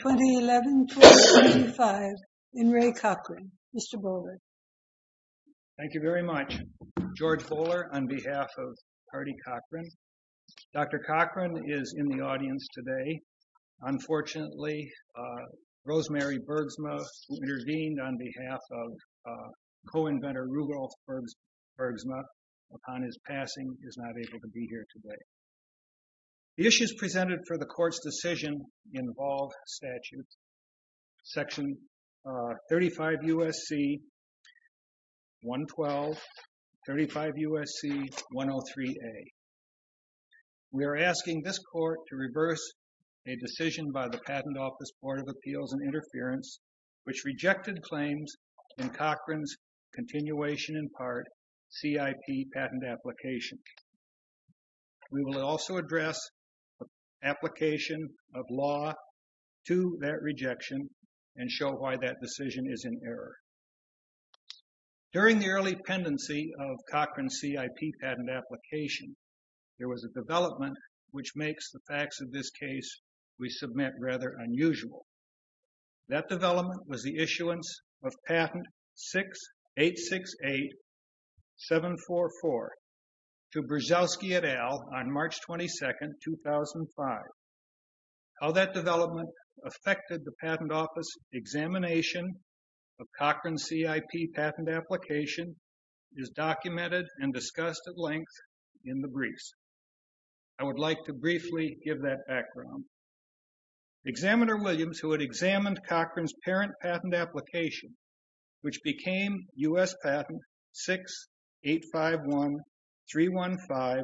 2011-2025. In Ray Cochran. Mr. Bowler. Thank you very much, George Bowler, on behalf of Cardi Cochran. Dr. Cochran is in the audience today. Unfortunately, Rosemary Bergsma, who intervened on behalf of co-inventor Rudolf Bergsma, upon his passing, is not able to be here today. The issues presented for the court's decision involve statutes section 35 U.S.C. 112, 35 U.S.C. 103A. We are asking this court to reverse a decision by the Patent Office Board of Appeals and Interference, which rejected claims in Cochran's continuation in part CIP patent application. We will also address the application of law to that rejection and show why that decision is in error. During the early pendency of Cochran's CIP patent application, there was a development which makes the facts of this case we submit rather unusual. That development was the issuance of patent 6868744 to Brzezowski et al. on March 22, 2005. How that development affected the Patent Office examination of Cochran's CIP patent application is documented and discussed at length in the briefs. I would like to briefly give that background. Examiner Williams, who had examined Cochran's patent application, which became U.S. Patent 6851315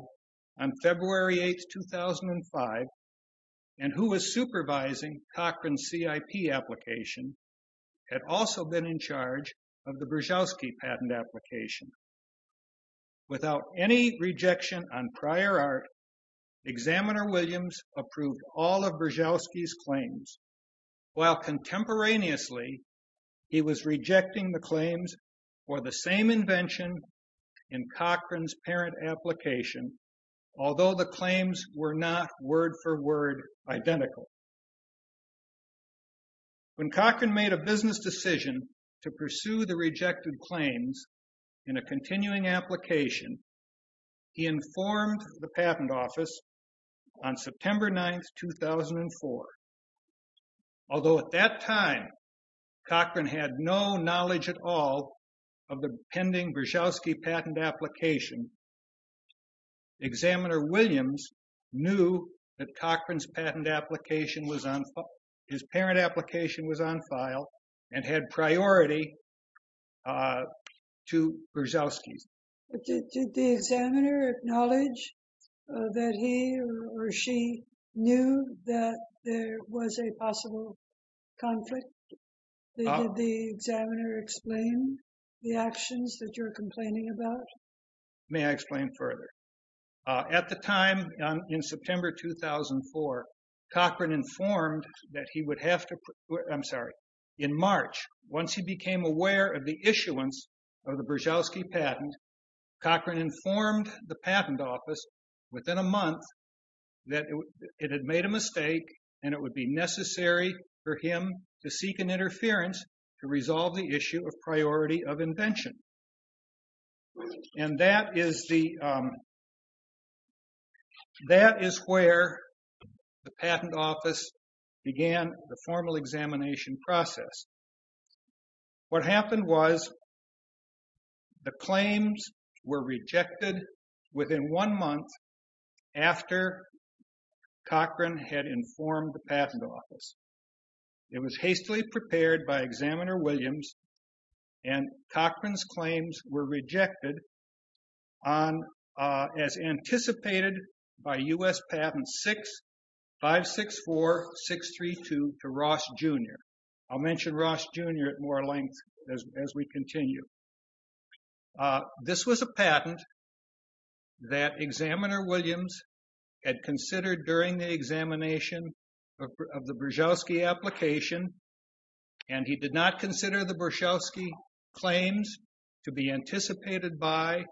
on February 8, 2005, and who was supervising Cochran's CIP application, had also been in charge of the Brzezowski patent application. Without any rejection on prior art, Examiner Williams approved all of Brzezowski's claims. While contemporaneously, he was rejecting the claims for the same invention in Cochran's parent application, although the claims were not word-for-word identical. When Cochran made a business decision to pursue the rejected claims in a continuing application, he informed the Patent Office on September 9, 2004. Although at that time, Cochran had no knowledge at all of the pending Brzezowski patent application, Examiner Williams knew that Cochran's patent application was on, and had priority to Brzezowski's. Did the examiner acknowledge that he or she knew that there was a possible conflict? Did the examiner explain the actions that you're complaining about? May I explain further? At the time, in September 2004, Cochran informed that he would have to, I'm sorry, in March, once he became aware of the issuance of the Brzezowski patent, Cochran informed the Patent Office within a month that it had made a mistake, and it would be necessary for him to seek an interference to resolve the issue of priority of invention. And that is where the Patent Office began the formal examination process. What happened was, the claims were rejected within one month after Cochran had informed the Patent Office. It was hastily prepared by Examiner Williams, and Cochran's claims were rejected on, as anticipated by U.S. Patent 6564-632 to Ross Jr. I'll mention Ross Jr. at more length as we continue. This was a patent that Examiner Williams had considered during the examination of the Brzezowski application, and he did not consider the Brzezowski claims to be anticipated by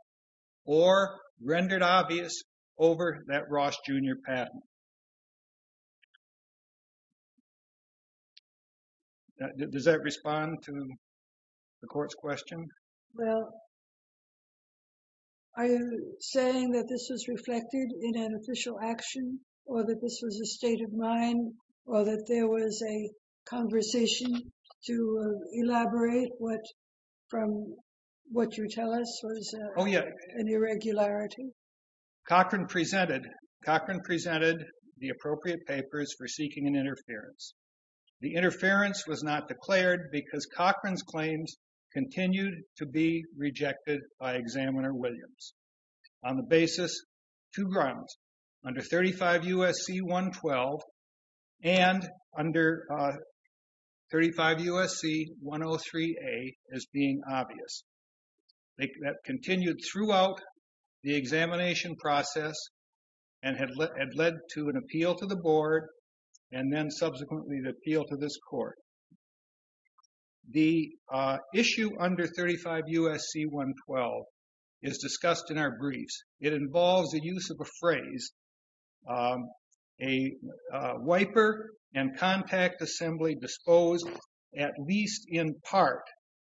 or rendered obvious over that Ross Jr. patent. Does that respond to the court's question? Well, are you saying that this was reflected in an official action, or that this was a state of mind, or that there was a conversation to elaborate what, from what you tell us was an irregularity? Oh, yeah. Cochran presented, Cochran presented the appropriate papers for seeking an interference. The interference was not declared because Cochran's claims continued to be rejected by Examiner Williams. On the basis, two grounds, under 35 U.S.C. 112, and under 35 U.S.C. 103A as being obvious. That continued throughout the examination process, and had led to an appeal to the board, and then subsequently the appeal to this court. The issue under 35 U.S.C. 112 is discussed in our briefs. It involves the use of a phrase, a wiper and contact assembly disposed at least in part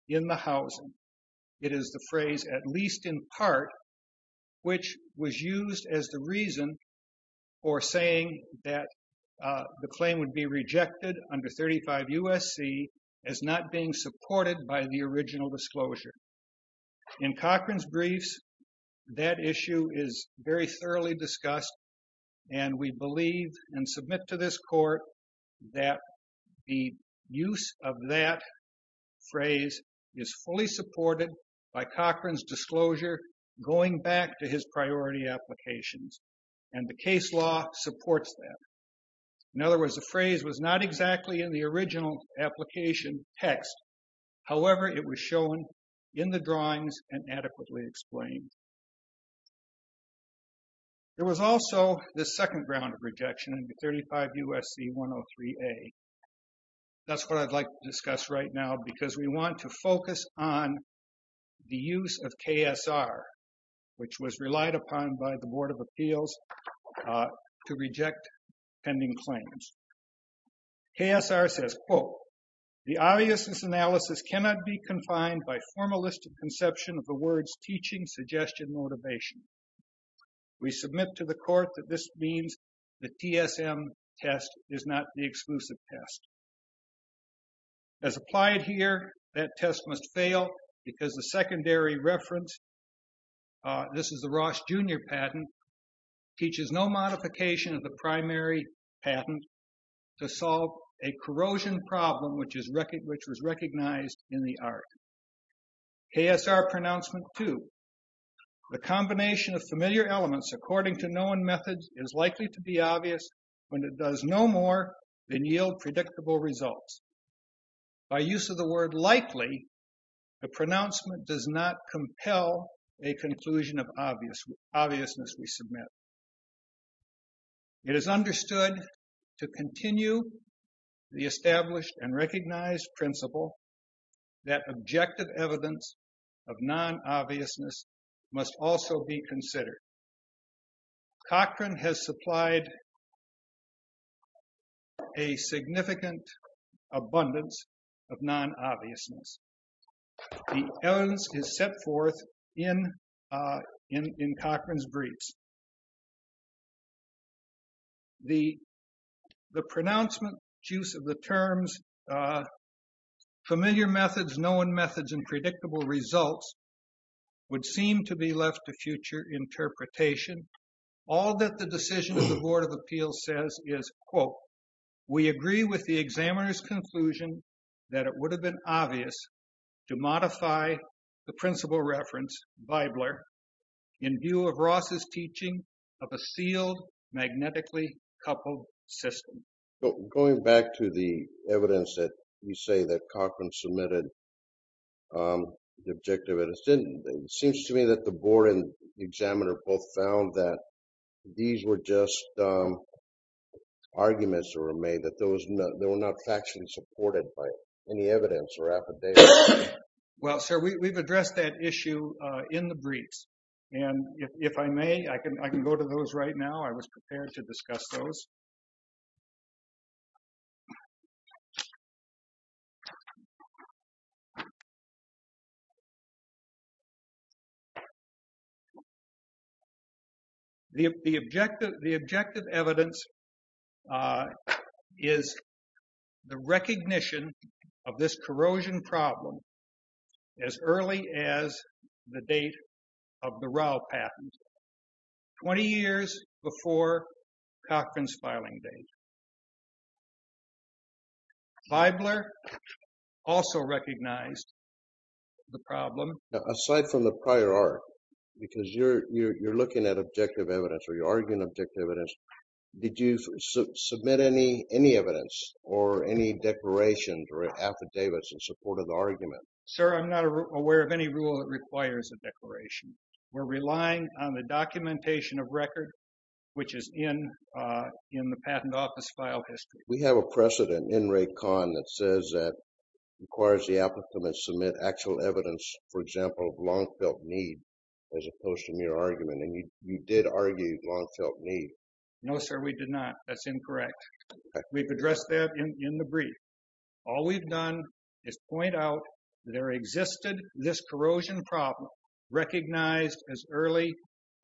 in the housing. It is the phrase at least in part, which was used as the reason for saying that the claim would be rejected under 35 U.S.C. as not being supported by the original disclosure. In Cochran's briefs, that issue is very thoroughly discussed, and we believe, and submit to this court, that the use of that phrase is fully supported by Cochran's disclosure going back to his priority applications, and the case law supports that. In other words, the phrase was not exactly in the original application text. However, it was shown in the drawings and adequately explained. There was also the second ground of rejection under 35 U.S.C. 103A. That's what I'd like to discuss right now, because we want to focus on the use of KSR, which was relied upon by the Board of Appeals to reject pending claims. KSR says, quote, the obviousness analysis cannot be confined by formalistic conception of the words teaching, suggestion, motivation. We submit to the court that this means the TSM test is not the exclusive test. As applied here, that test must fail because the secondary reference, this is the Ross Jr. patent, teaches no modification of the primary patent to solve a corrosion problem which was recognized in the art. KSR pronouncement two, the combination of familiar elements according to known methods is likely to be obvious when it does no more than yield predictable results. By use of the word likely, the pronouncement does not compel a conclusion of obviousness we submit. It is understood to continue the established and recognized principle that objective evidence of non-obviousness must also be considered. Cochran has supplied a significant abundance of non-obviousness. The evidence is set forth in Cochran's briefs. The pronouncement use of the terms familiar methods, known methods, and predictable results would seem to be left to future interpretation. All that the decision of the Board of Appeals says is, quote, we agree with the examiner's conclusion that it would have been obvious to modify the principal reference by Blair in view of Ross's teaching of a sealed magnetically coupled system. So going back to the evidence that you say that Cochran submitted the objective evidence, it seems to me that the board and the examiner both found that these were just arguments that were made, that they were not factually supported by any evidence or affidavit. Well, sir, we've addressed that issue in the briefs. And if I may, I can go to those right now. I was prepared to discuss those. The objective evidence is the recognition of this corrosion problem as early as the date of the Rao patent, 20 years before Cochran's filing date. Fibler also recognized the problem. Aside from the prior arc, because you're looking at objective evidence or you're arguing objective evidence, did you submit any evidence or any declarations or affidavits in support of the argument? Sir, I'm not aware of any rule that requires a declaration. We're relying on the documentation of record, which is in the patent office file history. We have a precedent in RACON that says that it requires the applicant to submit actual evidence, for example, of long-felt need, as opposed to mere argument. And you did argue long-felt need. No, sir, we did not. That's incorrect. We've addressed that in the brief. All we've done is point out there existed this corrosion problem, recognized as early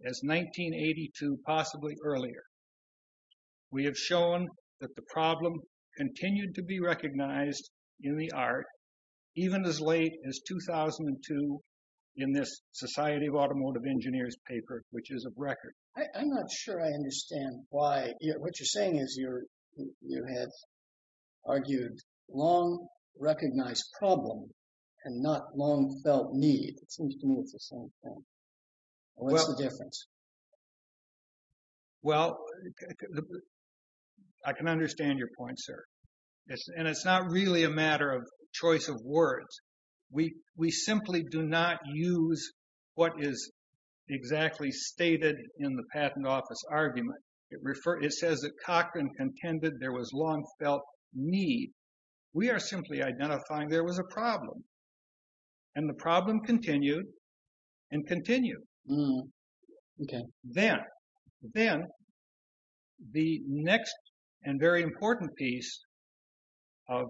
as 1982, possibly earlier. We have shown that the problem continued to be recognized in the arc, even as late as 2002, in this Society of Automotive Engineers paper, which is of record. I'm not sure I understand why. What you're saying is you had argued long-recognized problem and not long-felt need. It seems to me it's the same thing. What's the difference? Well, I can understand your point, sir. And it's not really a matter of choice of words. We simply do not use what is exactly stated in the patent office argument. It says that Cochran contended there was long-felt need. We are simply identifying there was a problem. And the problem continued and continued. Then the next and very important piece of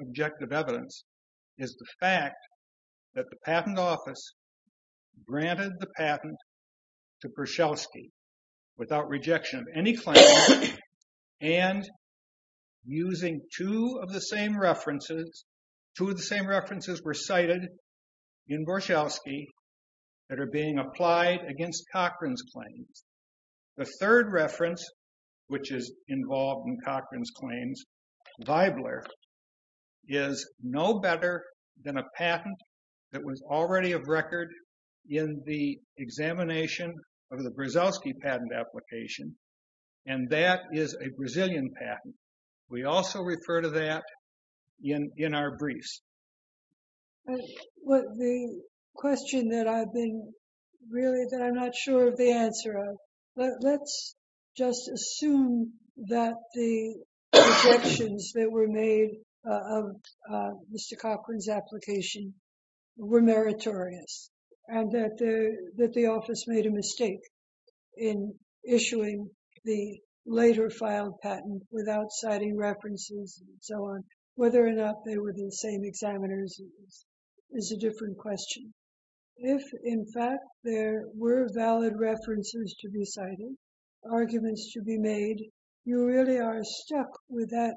objective evidence is the fact that the patent office granted the patent to Kershelsky without rejection of any claim. And using two of the same references, two of the same references were cited in Borshelsky that are being applied against Cochran's claims. The third reference, which is involved in Cochran's claims, Weibler, is no better than a patent that was already of record in the examination of the Borshelsky patent application. And that is a Brazilian patent. We also refer to that in our briefs. The question that I've been really, that I'm not sure of the answer of, let's just assume that the objections that were made of Mr. Cochran's application were meritorious. And that the office made a mistake in issuing the later filed patent without citing references and so on. Whether or not they were the same examiners is a different question. If, in fact, there were valid references to be cited, arguments to be made, you really are stuck with that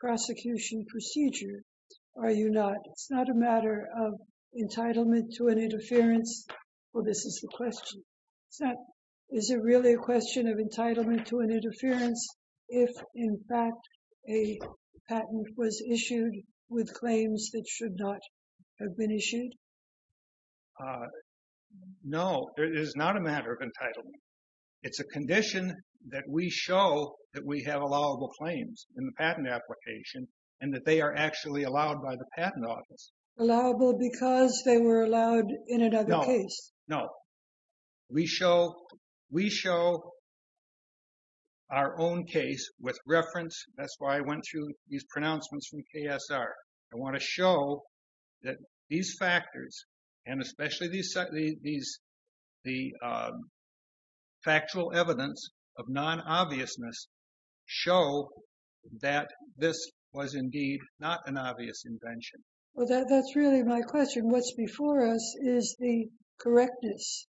prosecution procedure, are you not? It's not a matter of entitlement to an interference. Well, this is the question. Is it really a question of entitlement to an interference if, in fact, a patent was issued with claims that should not have been issued? No, it is not a matter of entitlement. It's a condition that we show that we have allowable claims in the patent application and that they are actually allowed by the patent office. Allowable because they were allowed in another case? No. We show our own case with reference. That's why I went through these pronouncements from KSR. I want to show that these factors and especially the factual evidence of non-obviousness show that this was indeed not an obvious invention. Well, that's really my question. What's before us is the correctness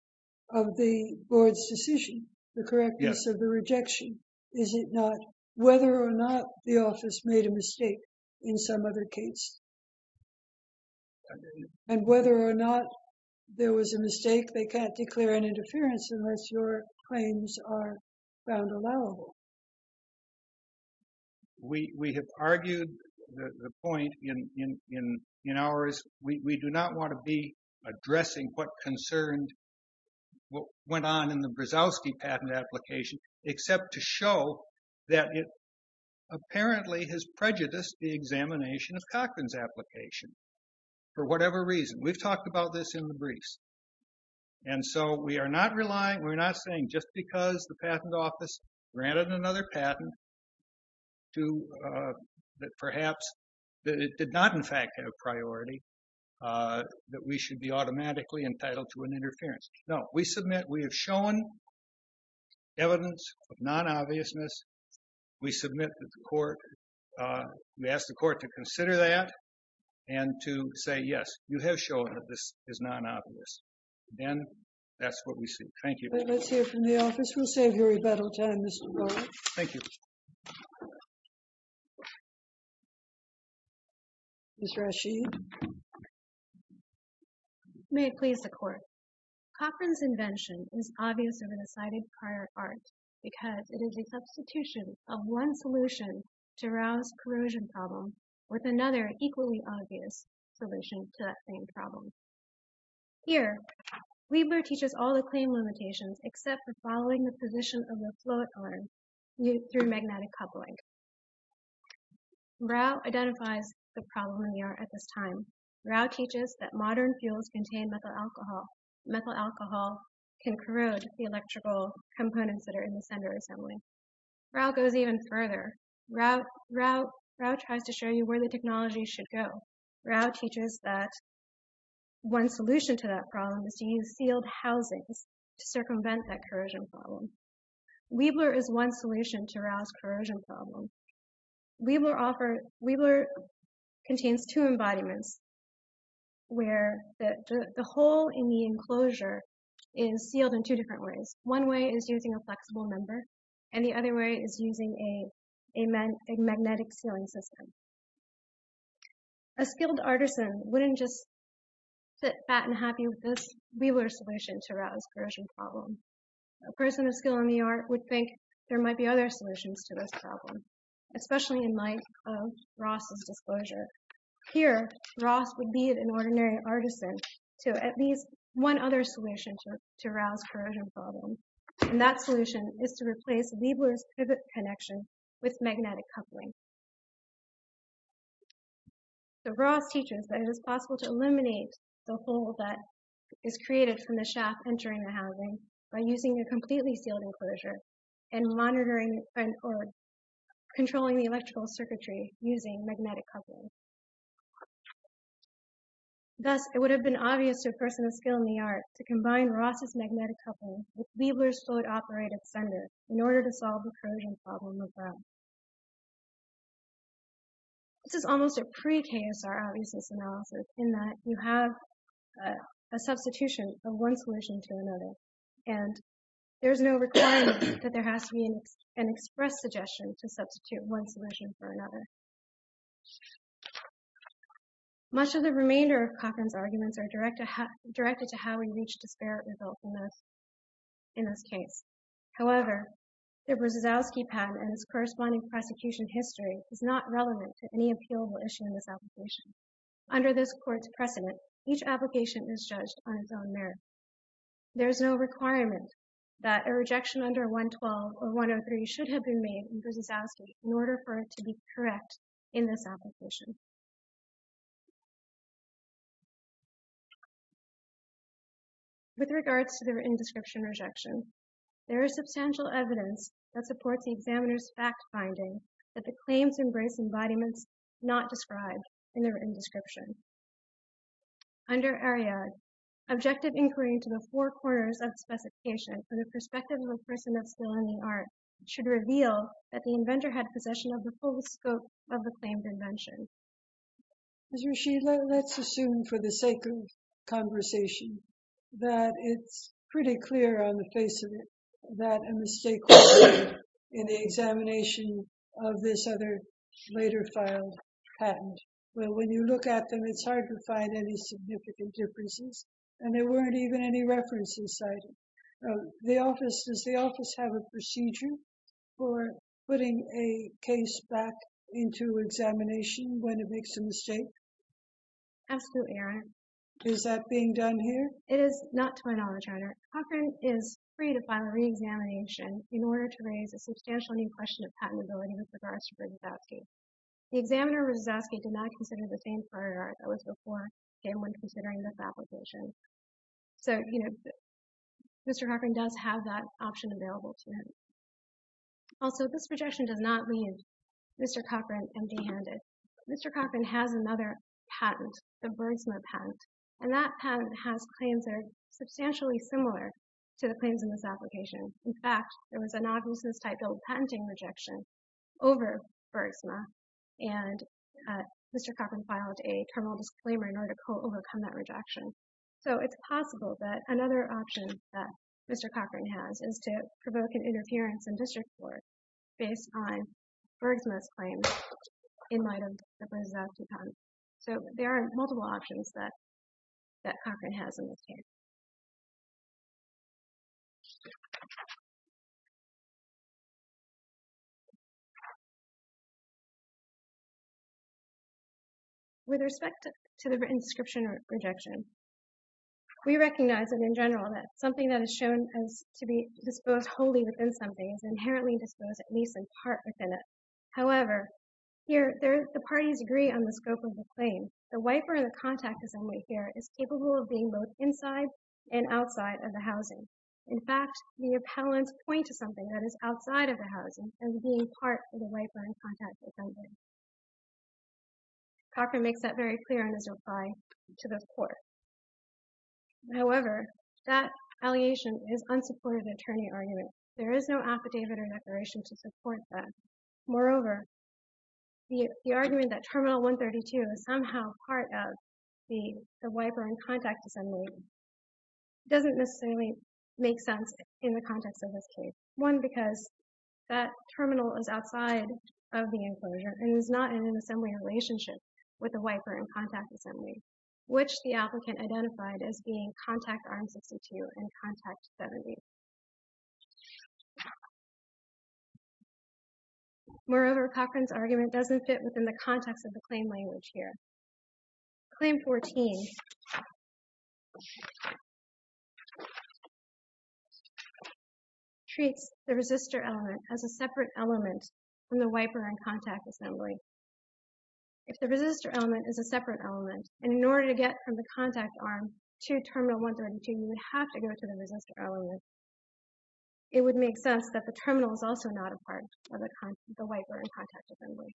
of the board's decision, the correctness of the rejection. Is it not whether or not the office made a mistake in some other case? And whether or not there was a mistake, they can't declare an interference unless your claims are found allowable. We have argued the point in ours. We do not want to be addressing what concerned, what went on in the Brzozowski patent application, except to show that it apparently has prejudiced the examination of Cochran's application for whatever reason. We've talked about this in the briefs. And so we are not relying, we're not saying just because the patent office granted another patent to, that perhaps, that it did not in fact have priority, that we should be automatically entitled to an interference. No. We submit, we have shown evidence of non-obviousness. We submit that the court, we ask the court to consider that and to say, yes, you have shown that this is non-obvious. Then that's what we see. Thank you. Let's hear from the office. We'll save your rebuttal time, Mr. Brzozowski. Thank you. Ms. Rasheed. May it please the court. Cochran's invention is obvious over the sighted prior art because it is a substitution of one solution to Rao's corrosion problem with another equally obvious solution to that same problem. Here, Liebler teaches all the claim limitations except for following the position of the float arm through magnetic coupling. Rao identifies the problem in the time. Rao teaches that modern fuels contain methyl alcohol. Methyl alcohol can corrode the electrical components that are in the center assembly. Rao goes even further. Rao tries to show you where the technology should go. Rao teaches that one solution to that problem is to use sealed housings to circumvent that corrosion problem. Liebler is one solution to Rao's corrosion problem. Liebler contains two embodiments where the hole in the enclosure is sealed in two different ways. One way is using a flexible member, and the other way is using a magnetic sealing system. A skilled artisan wouldn't just sit fat and happy with this Liebler solution to Rao's corrosion problem. A person of skill in the problem, especially in light of Ross's disclosure. Here, Ross would be an ordinary artisan to at least one other solution to Rao's corrosion problem, and that solution is to replace Liebler's pivot connection with magnetic coupling. Ross teaches that it is possible to eliminate the hole that is created from the shaft entering the housing by using a completely sealed enclosure and monitoring or controlling the electrical circuitry using magnetic coupling. Thus, it would have been obvious to a person of skill in the art to combine Ross's magnetic coupling with Liebler's fluid-operated sender in order to solve the corrosion problem of Rao. This is almost a pre-KSR obviousness analysis in that you have a substitution of one solution to another, and there's no requirement that there has to be an express suggestion to substitute one solution for another. Much of the remainder of Cochran's arguments are directed to how he reached disparate results in this case. However, the Brzezowski pattern and its corresponding prosecution history is not relevant to any appealable issue in this application. Under this court's precedent, each application is judged on its own merits. There is no requirement that a rejection under 112 or 103 should have been made in Brzezowski in order for it to be correct in this application. With regards to the written description rejection, there is substantial evidence that supports the examiner's fact-finding that the claims embrace embodiments not described in the written description. Under Ariadne, objective inquiry into the four corners of the specification for the perspective of a person of skill in the art should reveal that the inventor had possession of the full scope of the claimed invention. Ms. Rashid, let's assume for the sake of conversation that it's pretty clear on the face of it that a mistake was made in the examination of this other later filed patent. Well, when you look at them, it's hard to find any significant differences and there weren't even any references cited. Does the office have a procedure for putting a case back into examination when it makes a mistake? Absolutely, Your Honor. Is that being done here? It is not to my knowledge, Your Honor. Cochran is free to file a re-examination in order to raise a substantial new question of patentability with regards to Brzezowski. The examiner, Brzezowski, did not consider the same prior art that was before him when considering this application. So, you know, Mr. Cochran does have that option available to him. Also, this projection does not leave Mr. Cochran empty-handed. Mr. Cochran has another patent, the Burgsma patent, and that patent has claims that are substantially similar to the claims in this application. In fact, there was an obviousness-type bill patenting rejection over Burgsma and Mr. Cochran filed a terminal disclaimer in order to co-overcome that rejection. So, it's possible that another option that Mr. Cochran has is to provoke an interference in district court based on Burgsma's claim in light of the Brzezowski patent. So, there are multiple options that Cochran has in this case. So, with respect to the written description rejection, we recognize that in general, that something that is shown as to be disposed wholly within something is inherently disposed at least in part within it. However, here the parties agree on the scope of the claim. The wiper and the contact assembly here is capable of being both inside and outside of the housing. In fact, the appellants point to something that is outside of the housing and being part of the wiper and contact assembly. Cochran makes that very clear in his reply to the court. However, that allegation is unsupported in the attorney argument. There is no affidavit or declaration to support that. Moreover, the argument that Terminal 132 is somehow part of the wiper and contact assembly doesn't necessarily make sense in the context of this case. One, because that terminal is outside of the enclosure and is not in an assembly relationship with the wiper and contact assembly, which the applicant identified as being contact arm 62 and contact 70. Moreover, Cochran's argument doesn't fit within the context of the claim language here. Claim 14 treats the resistor element as a separate element from the wiper and contact assembly. If the resistor element is a separate element and in order to get from the contact arm to Terminal 132, you would have to go to the resistor element. It would make sense that the terminal is also not a part of the wiper and contact assembly.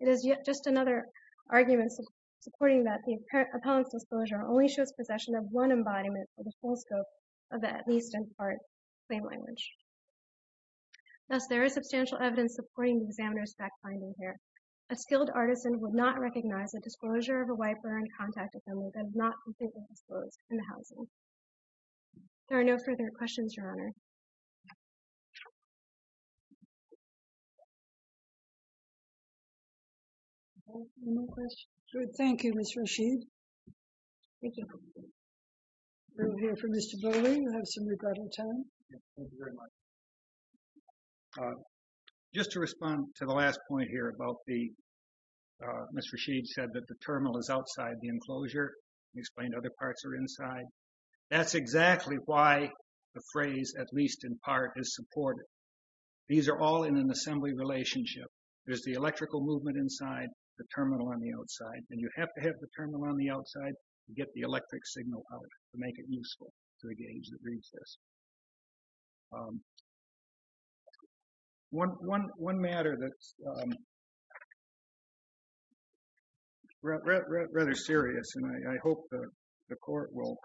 It is yet just another argument supporting that the appellant's disclosure only shows possession of one embodiment for the full scope of the at least in part claim language. Thus, there is substantial evidence supporting the examiner's fact-finding here. A skilled artisan would not recognize the disclosure of a wiper and contact assembly that is not completely disclosed in the housing. There are no further questions, Your Honor. No more questions? Good. Thank you, Mr. Rashid. We'll hear from Mr. Bowley. We'll have some regrettable time. Just to respond to the last point here about the, Mr. Rashid said that the terminal is outside the enclosure. He explained other parts are inside. That's exactly why the phrase, at least in part, is supported. These are all in an assembly relationship. There's the electrical movement inside, the terminal on the outside, and you have to have the terminal on the outside to get the electric signal out to make it useful to the gauge that reads this. One matter that's rather serious, and I hope the court will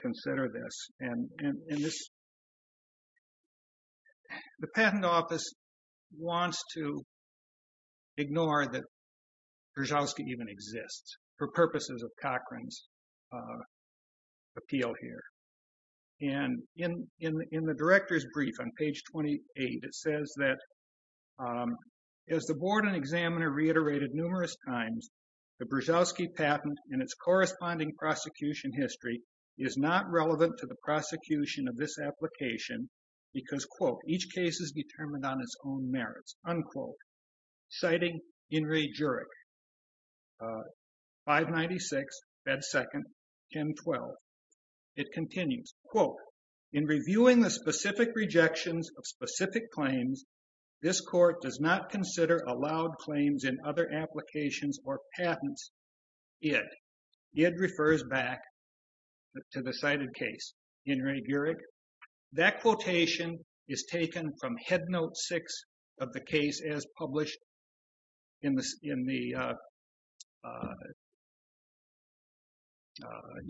consider this. The Patent Office wants to ignore that Brzozowski even exists for purposes of Cochran's appeal here. In the director's brief on page 28, it says that, as the board and examiner reiterated numerous times, the Brzozowski patent and its corresponding prosecution history is not relevant to the prosecution of this application because, quote, each case is determined on its own merits, unquote. Citing Henry Jurek, 596, bed second, 1012. It continues, quote, in reviewing the specific rejections of specific claims, this court does not consider allowed claims in other applications or patents. It refers back to the cited case, Henry Jurek. That quotation is taken from Headnote 6 of the case as published in the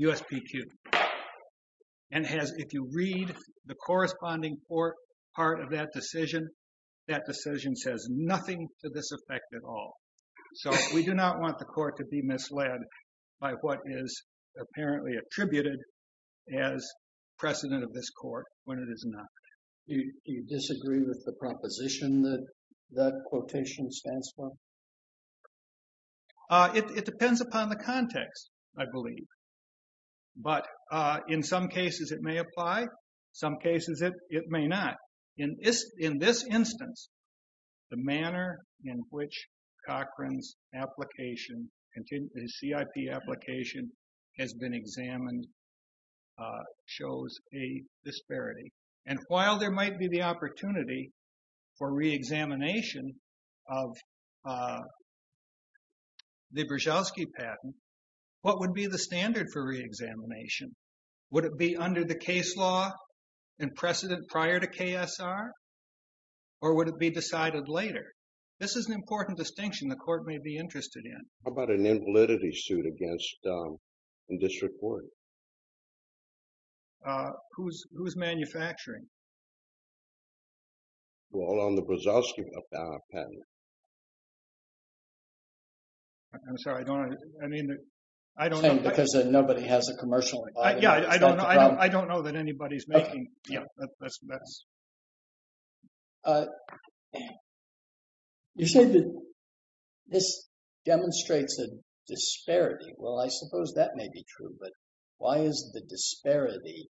USPQ. And if you read the corresponding part of that decision, that decision says nothing to this effect at all. So we do not want the court to be misled by what is apparently attributed as precedent of this court when it is not. Do you disagree with the proposition that quotation stands for? It depends upon the context, I believe. But in some cases, it may apply. Some cases, it may not. In this instance, the manner in which Cochran's application, CIP application has been examined, shows a disparity. And while there might be the opportunity for re-examination of the Brzezelski patent, what would be the standard for re-examination? Would it be under the case law and precedent prior to KSR? Or would it be decided later? This is an important distinction the court may be interested in. How about an invalidity suit against, in District 40? Who's manufacturing? Well, on the Brzezelski patent. I'm sorry, I don't know. I mean, I don't know. Because nobody has a commercial. Yeah, I don't know. I don't know that anybody's making. Yeah, that's. You said that this demonstrates a disparity. Well, I suppose that may be true. But why is the disparity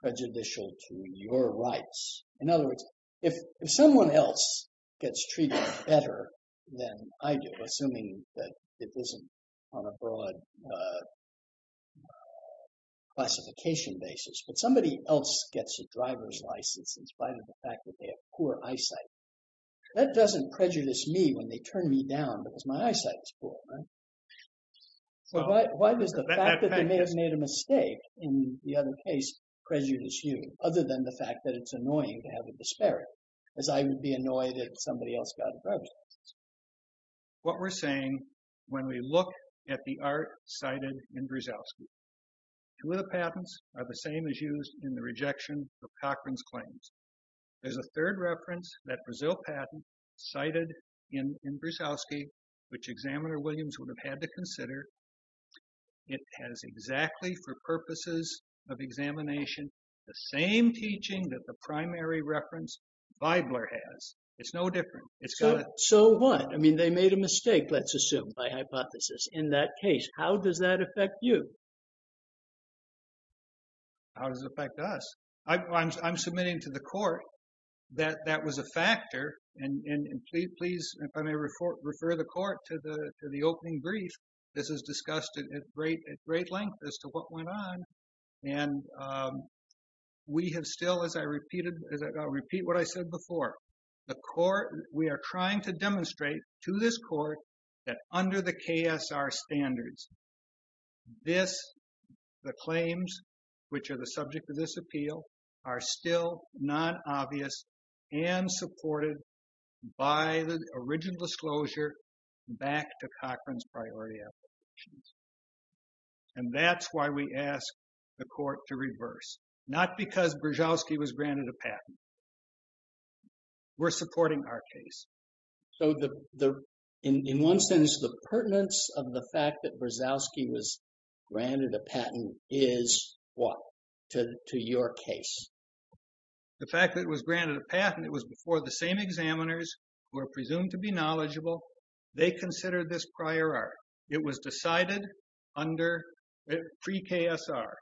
prejudicial to your rights? In other words, if someone else gets treated better than I do, assuming that it isn't on a broad classification basis, but somebody else gets a driver's license in spite of the fact that they have poor eyesight. That doesn't prejudice me when they turn me down because my eyesight is poor. So, why does the fact that they may have made a mistake in the other case prejudice you, other than the fact that it's annoying to have a disparity, as I would be annoyed if somebody else got a driver's license. What we're saying when we look at the art cited in Brzezelski, two of the patents are the same as used in the rejection of Cochran's claims. There's a third reference that Brazil patent cited in Brzezelski, which examiner Williams would have had to consider. It has exactly, for purposes of examination, the same teaching that the primary reference Weibler has. It's no different. So what? I mean, they made a mistake, let's assume by hypothesis in that case. How does that affect you? How does it affect us? I'm submitting to the court that that was a factor. And please, if I may refer the court to the opening brief, this is discussed at great length as to what went on. And we have still, as I repeated, as I repeat what I said before, the court, we are trying to demonstrate to this court that under the KSR standards, this, the claims which are the subject of this appeal are still non-obvious and supported by the original disclosure back to Cochran's priority applications. And that's why we ask the court to reverse, not because Brzezelski was granted a patent. We're supporting our case. So the, in one sense, the pertinence of the fact that Brzezelski was granted a patent is what, to your case? The fact that it was granted a patent, it was before the same examiners who are presumed to be knowledgeable. They consider this prior art. It was decided under pre-KSR.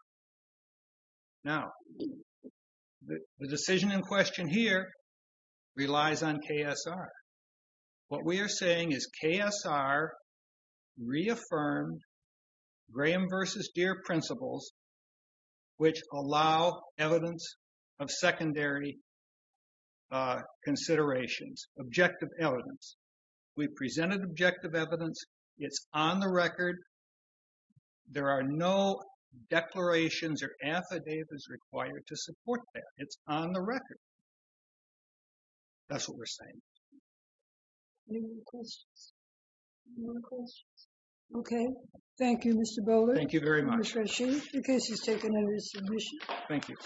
Now the decision in question here relies on KSR. What we are saying is KSR reaffirmed Graham versus Deere principles, which allow evidence of secondary considerations, objective evidence. We presented objective evidence. It's on the record. There are no declarations or affidavits required to support that. It's on the record. That's what we're saying. Any more questions? Okay. Thank you, Mr. Bowler. Thank you very much. Mr. Rasheed, your case is taken under submission. Thank you.